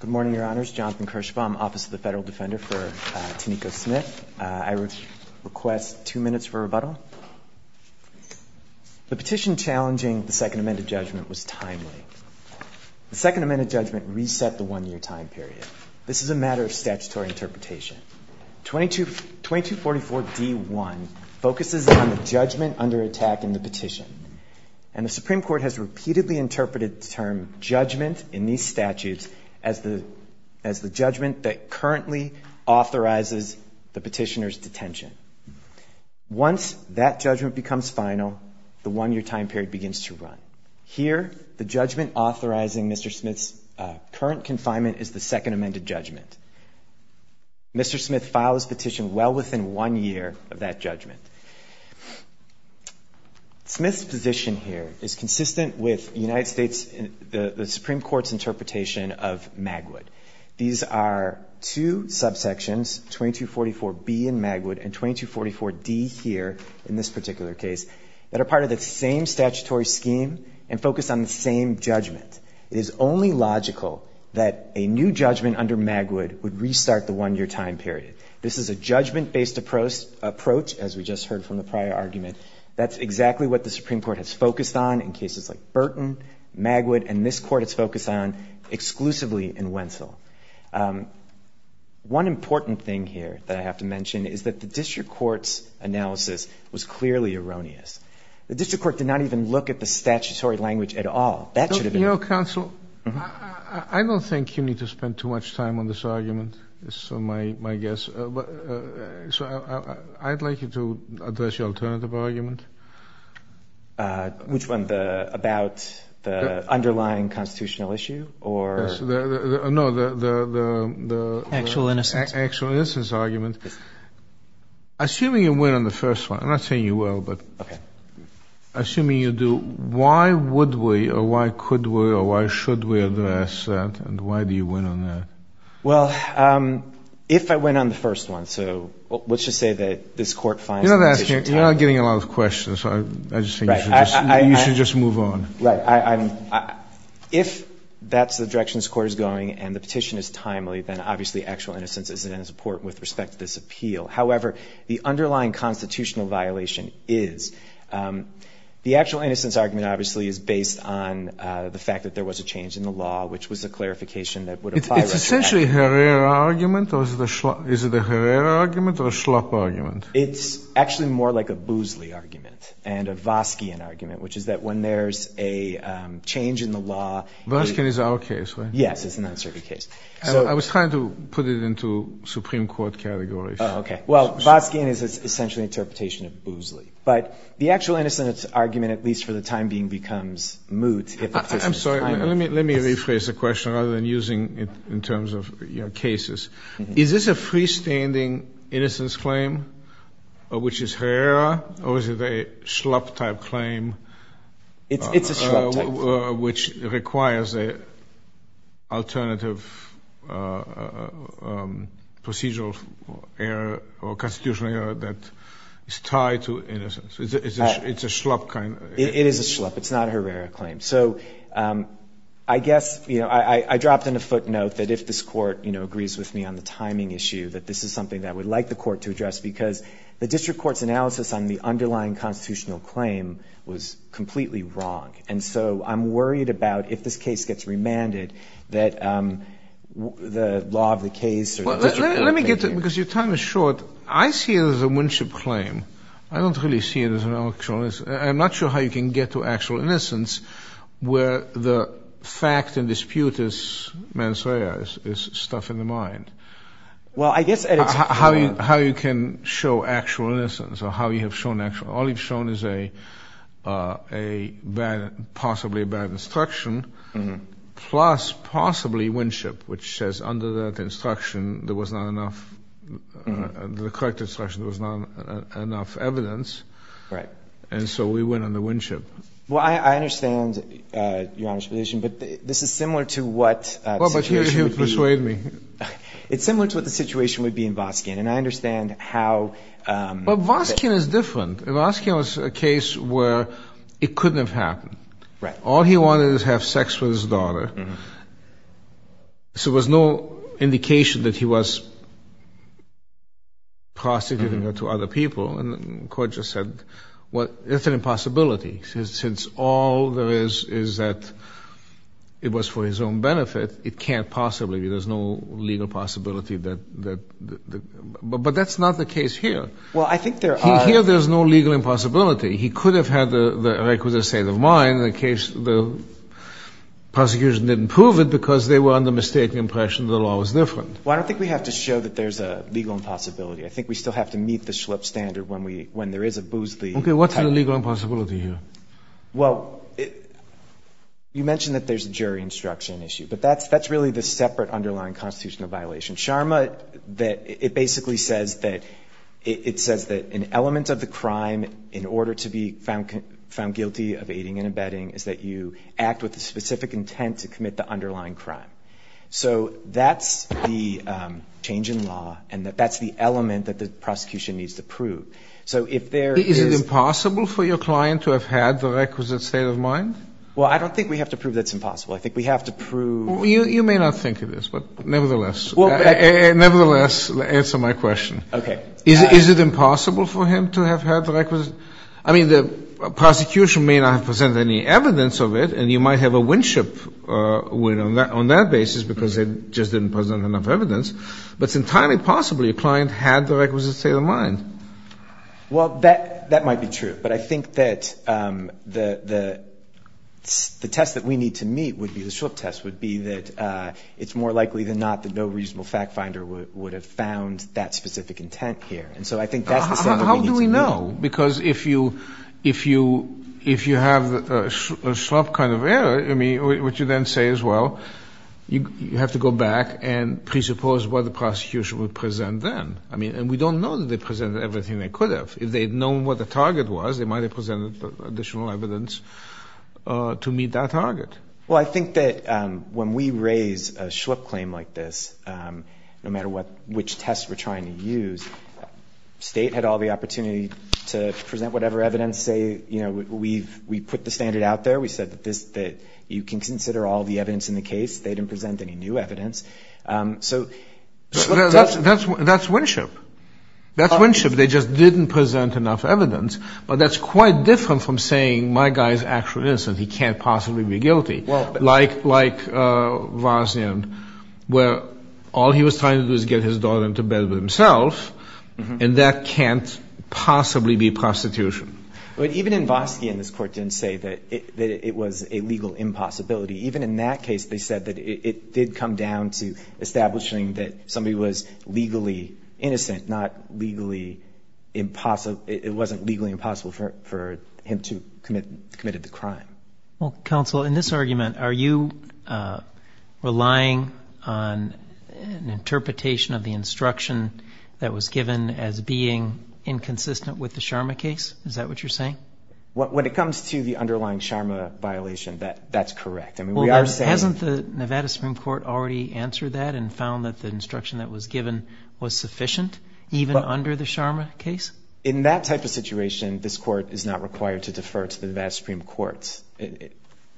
Good morning, Your Honors. Jonathan Kirschbaum, Office of the Federal Defender for Taniko Smith. I request two minutes for rebuttal. The petition challenging the Second Amendment judgment was timely. The Second Amendment judgment reset the one-year time period. This is a matter of statutory interpretation. And the Supreme Court has repeatedly interpreted the term judgment in these statutes as the judgment that currently authorizes the petitioner's detention. Once that judgment becomes final, the one-year time period begins to run. Here, the judgment authorizing Mr. Smith's current confinement is the Second Amendment judgment. Mr. Smith filed his petition well within one year of that judgment. Smith's position here is consistent with the Supreme Court's interpretation of Magwood. These are two subsections, 2244B in Magwood and 2244D here in this particular case, that are part of the same statutory scheme and focus on the same judgment. It is only logical that a new judgment under Magwood would restart the one-year time period. This is a judgment-based approach, as we just heard from the prior argument. That's exactly what the Supreme Court has focused on in cases like Burton, Magwood, and this Court has focused on exclusively in Wentzel. One important thing here that I have to mention is that the district court's analysis was clearly erroneous. The district court did not even look at the statutory language at all. You know, counsel, I don't think you need to spend too much time on this argument, is my guess. I'd like you to address your alternative argument. Which one? About the underlying constitutional issue? No, the actual innocence argument. Assuming you win on the first one, I'm not saying you will, but assuming you do, why would we or why could we or why should we address that, and why do you win on that? Well, if I win on the first one, so let's just say that this Court finds the petition timely. You're not getting a lot of questions. I just think you should just move on. Right. If that's the direction this Court is going and the petition is timely, then obviously actual innocence isn't in support with respect to this appeal. However, the underlying constitutional violation is. The actual innocence argument obviously is based on the fact that there was a change in the law, which was a clarification that would apply. It's essentially Herrera argument, or is it a Herrera argument or a Schlapp argument? It's actually more like a Boozley argument and a Voskian argument, which is that when there's a change in the law. Voskian is our case, right? Yes, it's an uncertain case. I was trying to put it into Supreme Court categories. Oh, okay. Well, Voskian is essentially an interpretation of Boozley. But the actual innocence argument, at least for the time being, becomes moot if the petition is timely. I'm sorry. Let me rephrase the question rather than using it in terms of cases. Is this a freestanding innocence claim, which is Herrera, or is it a Schlapp-type claim? It's a Schlapp-type claim. Which requires an alternative procedural error or constitutional error that is tied to innocence. It's a Schlapp kind of claim. It is a Schlapp. It's not a Herrera claim. So I guess, you know, I dropped in a footnote that if this court, you know, agrees with me on the timing issue, that this is something that I would like the court to address because the district court's analysis on the underlying constitutional claim was completely wrong. And so I'm worried about if this case gets remanded, that the law of the case or the district court will take it. Let me get to it because your time is short. I see it as a Winship claim. I don't really see it as an actual innocence. I'm not sure how you can get to actual innocence where the fact and dispute is stuff in the mind. Well, I guess at its core. How you can show actual innocence or how you have shown actual. All you've shown is a bad, possibly a bad instruction, plus possibly Winship, which says under that instruction there was not enough. The correct instruction was not enough evidence. Right. And so we went under Winship. Well, I understand Your Honor's position, but this is similar to what the situation would be. Persuade me. It's similar to what the situation would be in Voskin. And I understand how. But Voskin is different. Voskin was a case where it couldn't have happened. Right. All he wanted was to have sex with his daughter. So there was no indication that he was prostituting her to other people. And the court just said, well, it's an impossibility. Since all there is is that it was for his own benefit, it can't possibly be. There's no legal possibility that. But that's not the case here. Well, I think there are. Here there's no legal impossibility. He could have had the requisite state of mind. The prosecution didn't prove it because they were under mistaken impression the law was different. Well, I don't think we have to show that there's a legal impossibility. I think we still have to meet the Schlepp standard when there is a Boozley. Okay. What's the legal impossibility here? Well, you mentioned that there's a jury instruction issue. But that's really the separate underlying constitutional violation. SHARMA, it basically says that an element of the crime, in order to be found guilty of aiding and abetting, is that you act with the specific intent to commit the underlying crime. So that's the change in law, and that's the element that the prosecution needs to prove. So if there is – Is it impossible for your client to have had the requisite state of mind? Well, I don't think we have to prove that's impossible. I think we have to prove – You may not think it is, but nevertheless – Nevertheless, answer my question. Okay. Is it impossible for him to have had the requisite – I mean, the prosecution may not have presented any evidence of it, and you might have a win-ship win on that basis because they just didn't present enough evidence. But it's entirely possible your client had the requisite state of mind. Well, that might be true. But I think that the test that we need to meet would be – no reasonable fact finder would have found that specific intent here. And so I think that's the – How do we know? Because if you have a Schlupp kind of error, I mean, what you then say is, well, you have to go back and presuppose what the prosecution would present then. I mean, and we don't know that they presented everything they could have. If they had known what the target was, they might have presented additional evidence to meet that target. Well, I think that when we raise a Schlupp claim like this, no matter which test we're trying to use, State had all the opportunity to present whatever evidence, say, you know, we put the standard out there. We said that you can consider all the evidence in the case. They didn't present any new evidence. So – That's win-ship. That's win-ship. They just didn't present enough evidence. But that's quite different from saying my guy is actually innocent. He can't possibly be guilty, like Voskian, where all he was trying to do was get his daughter into bed with himself, and that can't possibly be prostitution. But even in Voskian, this Court didn't say that it was a legal impossibility. Even in that case, they said that it did come down to establishing that somebody was legally innocent, not legally impossible – it wasn't legally impossible for him to have committed the crime. Well, counsel, in this argument, are you relying on an interpretation of the instruction that was given as being inconsistent with the Sharma case? Is that what you're saying? When it comes to the underlying Sharma violation, that's correct. I mean, we are saying – Well, hasn't the Nevada Supreme Court already answered that and found that the instruction that was given was sufficient, even under the Sharma case? In that type of situation, this Court is not required to defer to the Nevada Supreme Court's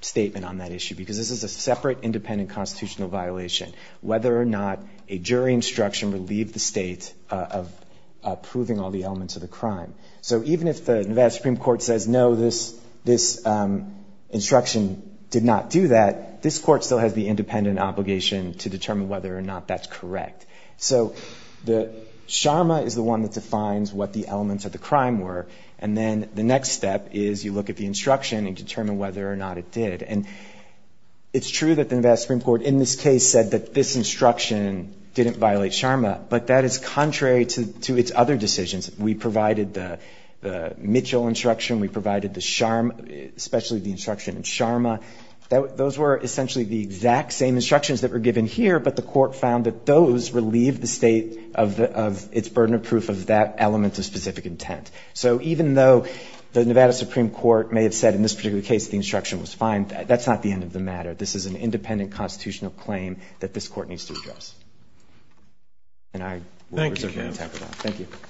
statement on that issue because this is a separate independent constitutional violation, whether or not a jury instruction relieved the State of proving all the elements of the crime. So even if the Nevada Supreme Court says, no, this instruction did not do that, this Court still has the independent obligation to determine whether or not that's correct. So Sharma is the one that defines what the elements of the crime were, and then the next step is you look at the instruction and determine whether or not it did. And it's true that the Nevada Supreme Court, in this case, said that this instruction didn't violate Sharma, but that is contrary to its other decisions. We provided the Mitchell instruction. We provided the Sharma – especially the instruction in Sharma. Those were essentially the exact same instructions that were given here, but the Court found that those relieved the State of its burden of proof of that element of specific intent. So even though the Nevada Supreme Court may have said in this particular case the instruction was fine, that's not the end of the matter. This is an independent constitutional claim that this Court needs to address. And I will reserve my time for that. Thank you. Thank you.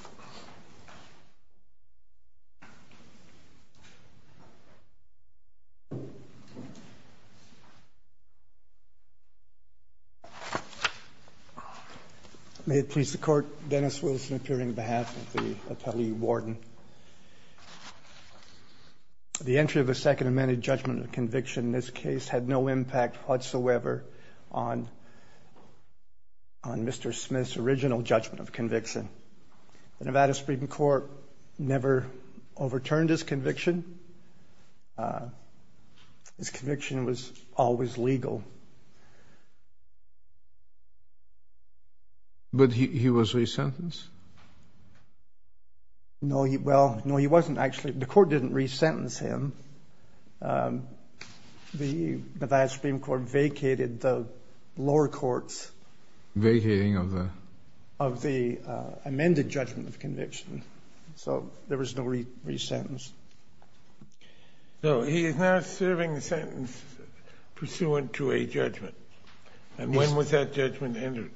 May it please the Court. Dennis Wilson, appearing on behalf of the Attelee Warden. The entry of the Second Amendment judgment of conviction in this case had no impact whatsoever on Mr. Smith's original judgment of conviction. The Nevada Supreme Court never overturned his conviction. His conviction was always legal. But he was re-sentenced? No, he wasn't actually. The Court didn't re-sentence him. The Nevada Supreme Court vacated the lower courts of the amended judgment of conviction. So there was no re-sentence. So he is now serving a sentence pursuant to a judgment. And when was that judgment entered?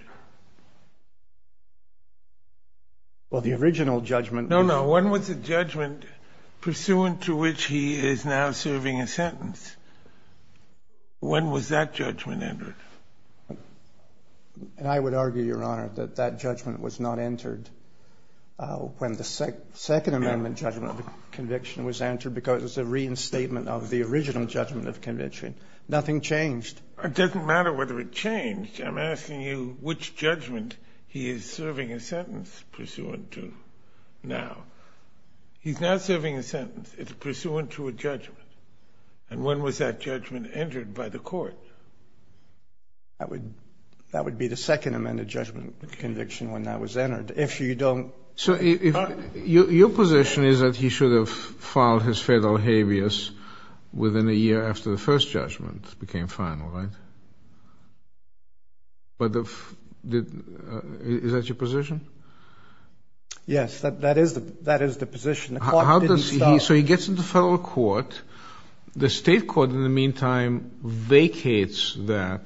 Well, the original judgment... No, no. When was the judgment pursuant to which he is now serving a sentence? When was that judgment entered? And I would argue, Your Honor, that that judgment was not entered when the Second Amendment judgment of conviction was entered because it's a reinstatement of the original judgment of conviction. Nothing changed. It doesn't matter whether it changed. I'm asking you which judgment he is serving a sentence pursuant to now. He's now serving a sentence. It's pursuant to a judgment. And when was that judgment entered by the Court? That would be the Second Amendment judgment of conviction when that was entered. If you don't... So your position is that he should have filed his fatal habeas within a year after the first judgment became final, right? But the... Is that your position? Yes. That is the position. The Court didn't stop. So he gets into federal court. The state court, in the meantime, vacates that.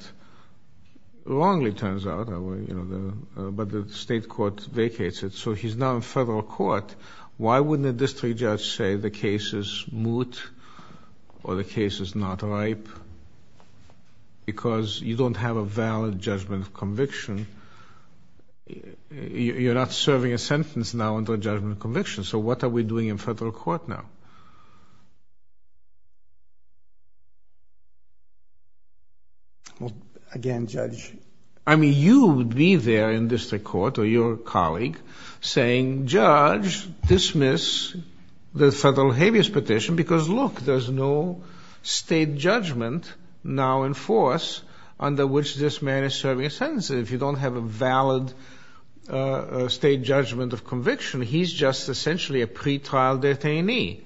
Wrongly, it turns out. But the state court vacates it. So he's now in federal court. Why wouldn't a district judge say the case is moot or the case is not ripe? Because you don't have a valid judgment of conviction. You're not serving a sentence now under a judgment of conviction. So what are we doing in federal court now? Well, again, Judge... I mean, you would be there in district court or your colleague saying, Judge, dismiss the federal habeas petition because, look, there's no state judgment now in force under which this man is serving a sentence. If you don't have a valid state judgment of conviction, he's just essentially a pretrial detainee.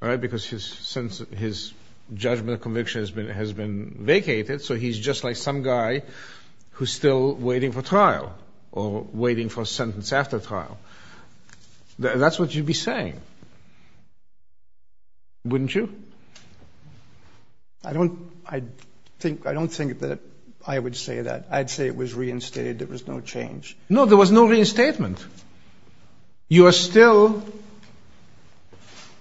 All right? Because his judgment of conviction has been vacated, so he's just like some guy who's still waiting for trial or waiting for sentence after trial. That's what you'd be saying, wouldn't you? I don't... I think... I don't think that I would say that. I'd say it was reinstated. There was no change. No, there was no reinstatement. You are still...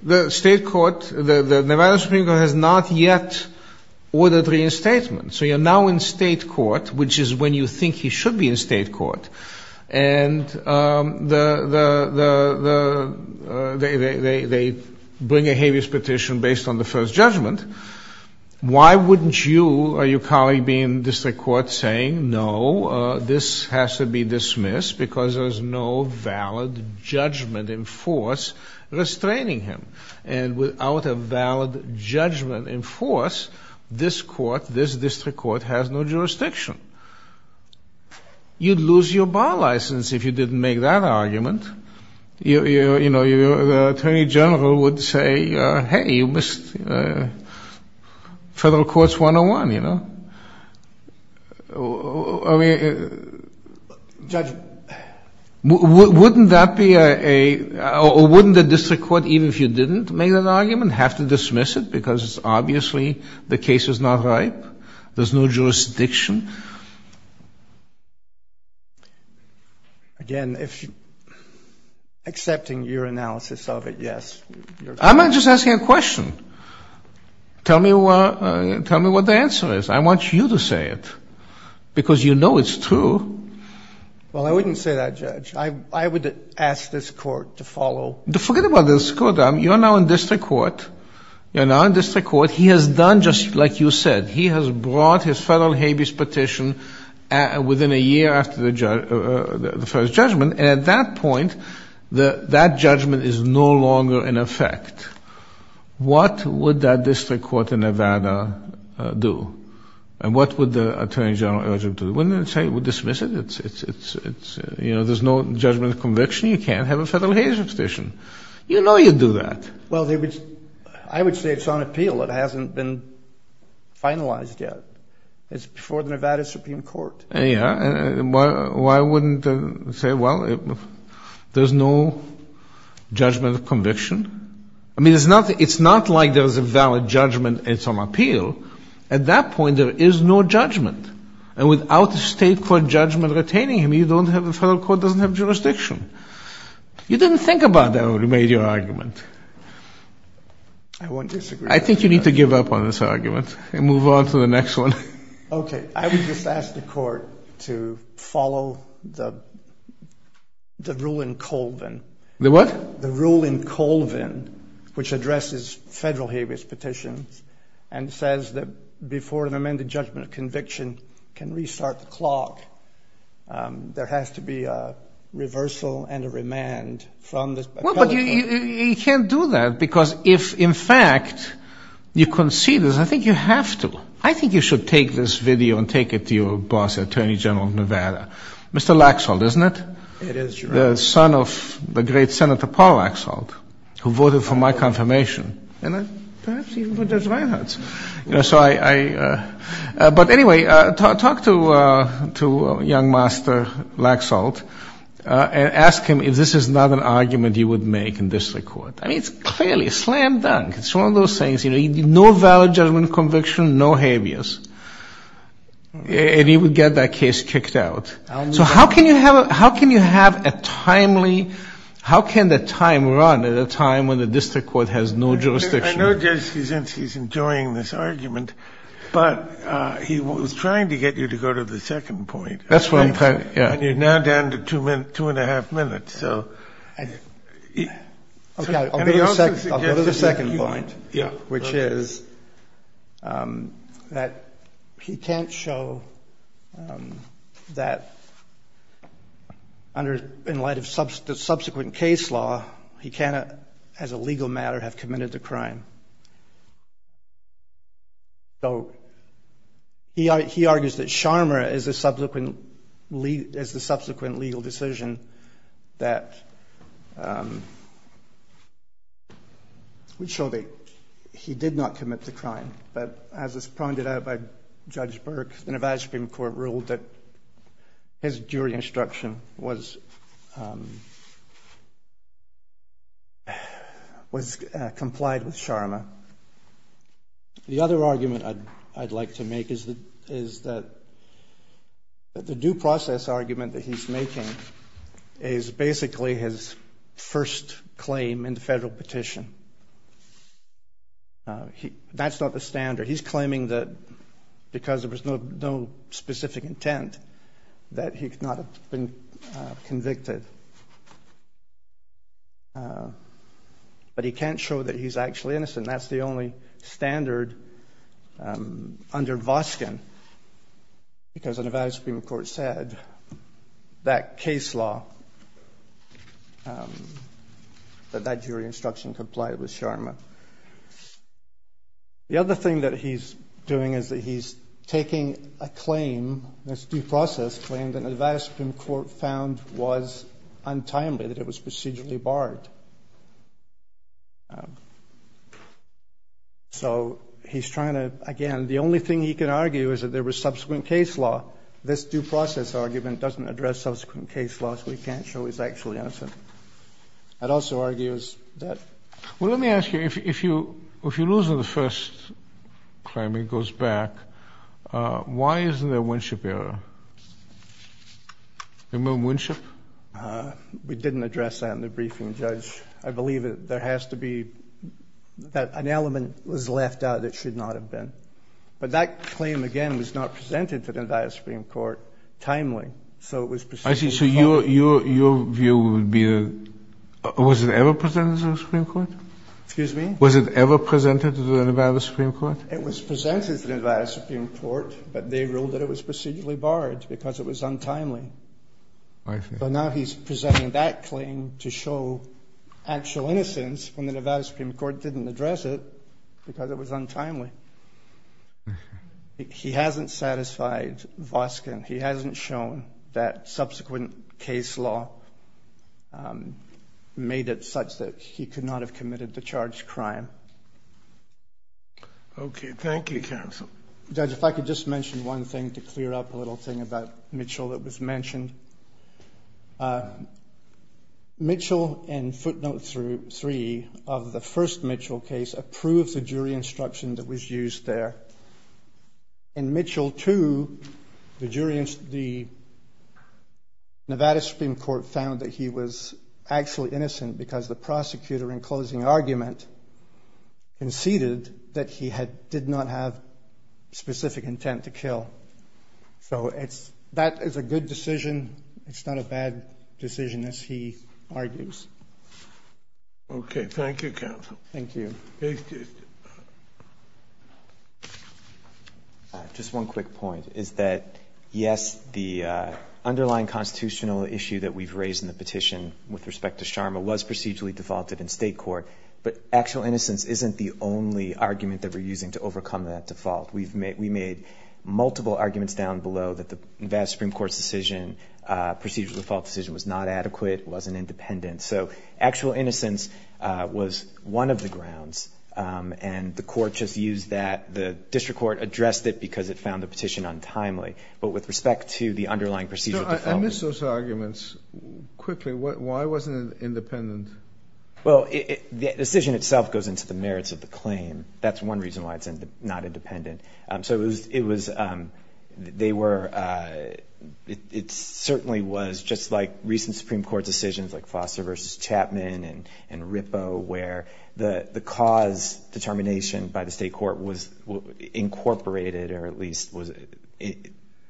The state court, the Nevada Supreme Court has not yet ordered reinstatement. So you're now in state court, which is when you think he should be in state court, and they bring a habeas petition based on the first judgment. Why wouldn't you or your colleague be in district court saying, No, this has to be dismissed because there's no valid judgment in force restraining him? And without a valid judgment in force, this court, this district court has no jurisdiction. You'd lose your bar license if you didn't make that argument. You know, the attorney general would say, Hey, you missed federal courts 101, you know? I mean... Judge... Wouldn't that be a... Or wouldn't the district court, even if you didn't make that argument, have to dismiss it because obviously the case is not ripe? There's no jurisdiction? Again, if... Accepting your analysis of it, yes. I'm not just asking a question. Tell me what the answer is. I want you to say it because you know it's true. Well, I wouldn't say that, Judge. I would ask this court to follow... Forget about this court. You're now in district court. You're now in district court. He has done just like you said. He has brought his federal habeas petition within a year after the first judgment, and at that point, that judgment is no longer in effect. What would that district court in Nevada do? And what would the attorney general urge them to do? I wouldn't say we dismiss it. It's, you know, there's no judgment of conviction. You can't have a federal habeas petition. You know you do that. Well, I would say it's on appeal. It hasn't been finalized yet. It's before the Nevada Supreme Court. Yeah. Why wouldn't they say, well, there's no judgment of conviction? I mean, it's not like there's a valid judgment, it's on appeal. At that point, there is no judgment. And without a state court judgment retaining him, the federal court doesn't have jurisdiction. You didn't think about that when you made your argument. I think you need to give up on this argument and move on to the next one. Okay. I would just ask the court to follow the rule in Colvin. The what? The rule in Colvin, which addresses federal habeas petitions, and says that before an amended judgment of conviction can restart the clock, there has to be a reversal and a remand from the federal court. Well, but you can't do that because if, in fact, you concede this, I think you have to. I think you should take this video and take it to your boss, the Attorney General of Nevada. Mr. Laxalt, isn't it? It is, Your Honor. The son of the great Senator Paul Laxalt, who voted for my confirmation. And perhaps even for Judge Reinhardt's. But anyway, talk to young Master Laxalt and ask him if this is not an argument you would make in district court. I mean, it's clearly slam dunk. It's one of those things. No valid judgment of conviction, no habeas. And he would get that case kicked out. So how can you have a timely, how can the time run at a time when the district court has no jurisdiction? I know Judge Cizinski is enjoying this argument, but he was trying to get you to go to the second point. That's what I'm trying to, yeah. And you're now down to two and a half minutes. Okay, I'll go to the second point, which is that he can't show that under, in light of subsequent case law, he cannot, as a legal matter, have committed the crime. So he argues that Sharma is the subsequent legal decision that would show that he did not commit the crime. But as is pointed out by Judge Burke, the Nevada Supreme Court ruled that his jury instruction was complied with Sharma. The other argument I'd like to make is that the due process argument that he's making is basically his first claim in the federal petition. That's not the standard. He's claiming that because there was no specific intent that he could not have been convicted. But he can't show that he's actually innocent. That's the only standard under Voskin because the Nevada Supreme Court said that case law, that that jury instruction complied with Sharma. The other thing that he's doing is that he's taking a claim, this due process claim, that the Nevada Supreme Court found was untimely, that it was procedurally barred. So he's trying to, again, the only thing he can argue is that there was subsequent case law. This due process argument doesn't address subsequent case law, so he can't show he's actually innocent. I'd also argue it was dead. Well, let me ask you, if you lose on the first claim, it goes back, why isn't there a Winship error? Remember Winship? We didn't address that in the briefing, Judge. I believe there has to be an element was left out that should not have been. But that claim, again, was not presented to the Nevada Supreme Court timely, so it was procedurally barred. I see. So your view would be was it ever presented to the Supreme Court? Excuse me? Was it ever presented to the Nevada Supreme Court? It was presented to the Nevada Supreme Court, but they ruled that it was procedurally barred because it was untimely. I see. So now he's presenting that claim to show actual innocence when the Nevada Supreme Court didn't address it because it was untimely. He hasn't satisfied Voskin. He hasn't shown that subsequent case law made it such that he could not have committed the charged crime. Okay. Thank you, Counsel. Judge, if I could just mention one thing to clear up a little thing about Mitchell that was mentioned. Mitchell in footnote 3 of the first Mitchell case approved the jury instruction that was used there. In Mitchell 2, the Nevada Supreme Court found that he was actually innocent because the prosecutor in closing argument conceded that he did not have specific intent to kill. So that is a good decision. It's not a bad decision, as he argues. Okay. Thank you, Counsel. Thank you. Just one quick point is that, yes, the underlying constitutional issue that we've raised in the petition with respect to Sharma was procedurally defaulted in state court, but actual innocence isn't the only argument that we're using to overcome that default. We made multiple arguments down below that the Nevada Supreme Court's decision, procedural default decision, was not adequate, wasn't independent. So actual innocence was one of the grounds, and the court just used that. The district court addressed it because it found the petition untimely. But with respect to the underlying procedural default. I missed those arguments quickly. Why wasn't it independent? Well, the decision itself goes into the merits of the claim. That's one reason why it's not independent. It certainly was just like recent Supreme Court decisions like Foster v. Chapman and Rippo where the cause determination by the state court was incorporated or at least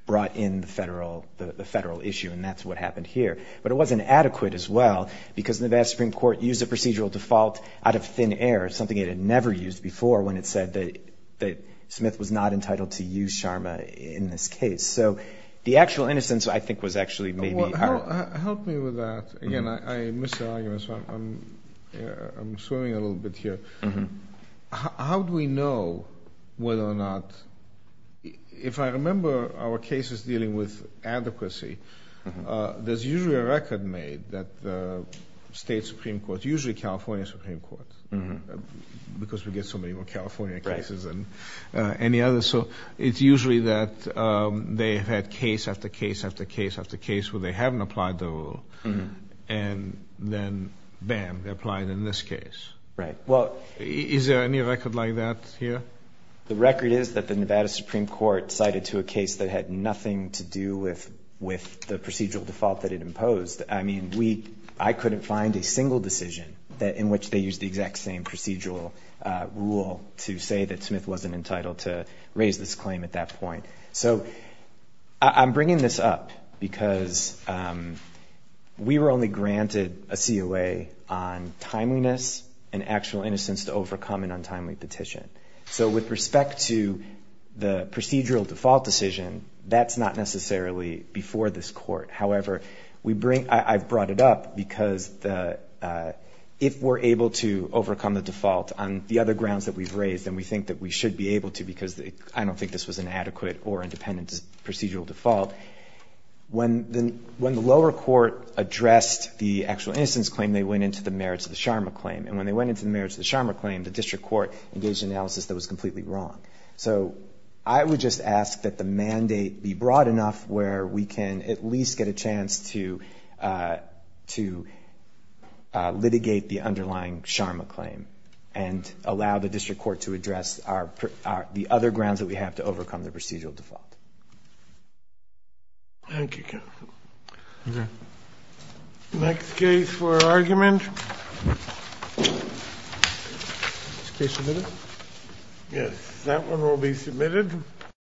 brought in the federal issue, and that's what happened here. But it wasn't adequate as well because the Nevada Supreme Court used a procedural default out of thin air, something it had never used before when it said that Smith was not entitled to use Sharma in this case. So the actual innocence, I think, was actually maybe. Help me with that. Again, I missed the argument, so I'm swimming a little bit here. How do we know whether or not, if I remember our cases dealing with adequacy, there's usually a record made that the state Supreme Court, usually California Supreme Court, because we get so many more California cases than any other. So it's usually that they have had case after case after case after case where they haven't applied the rule, and then, bam, they apply it in this case. Right. Is there any record like that here? The record is that the Nevada Supreme Court cited to a case that had nothing to do with the procedural default that it imposed. I mean, I couldn't find a single decision in which they used the exact same procedural rule to say that Smith wasn't entitled to raise this claim at that point. So I'm bringing this up because we were only granted a COA on timeliness and actual innocence to overcome an untimely petition. So with respect to the procedural default decision, that's not necessarily before this court. However, I've brought it up because if we're able to overcome the default on the other grounds that we've raised, and we think that we should be able to because I don't think this was an adequate or independent procedural default, when the lower court addressed the actual innocence claim, they went into the merits of the Sharma claim. And when they went into the merits of the Sharma claim, the district court engaged analysis that was completely wrong. So I would just ask that the mandate be broad enough where we can at least get a chance to litigate the underlying Sharma claim and allow the district court to address the other grounds that we have to overcome the procedural default. Thank you, counsel. Okay. Next case for argument. Is this case submitted?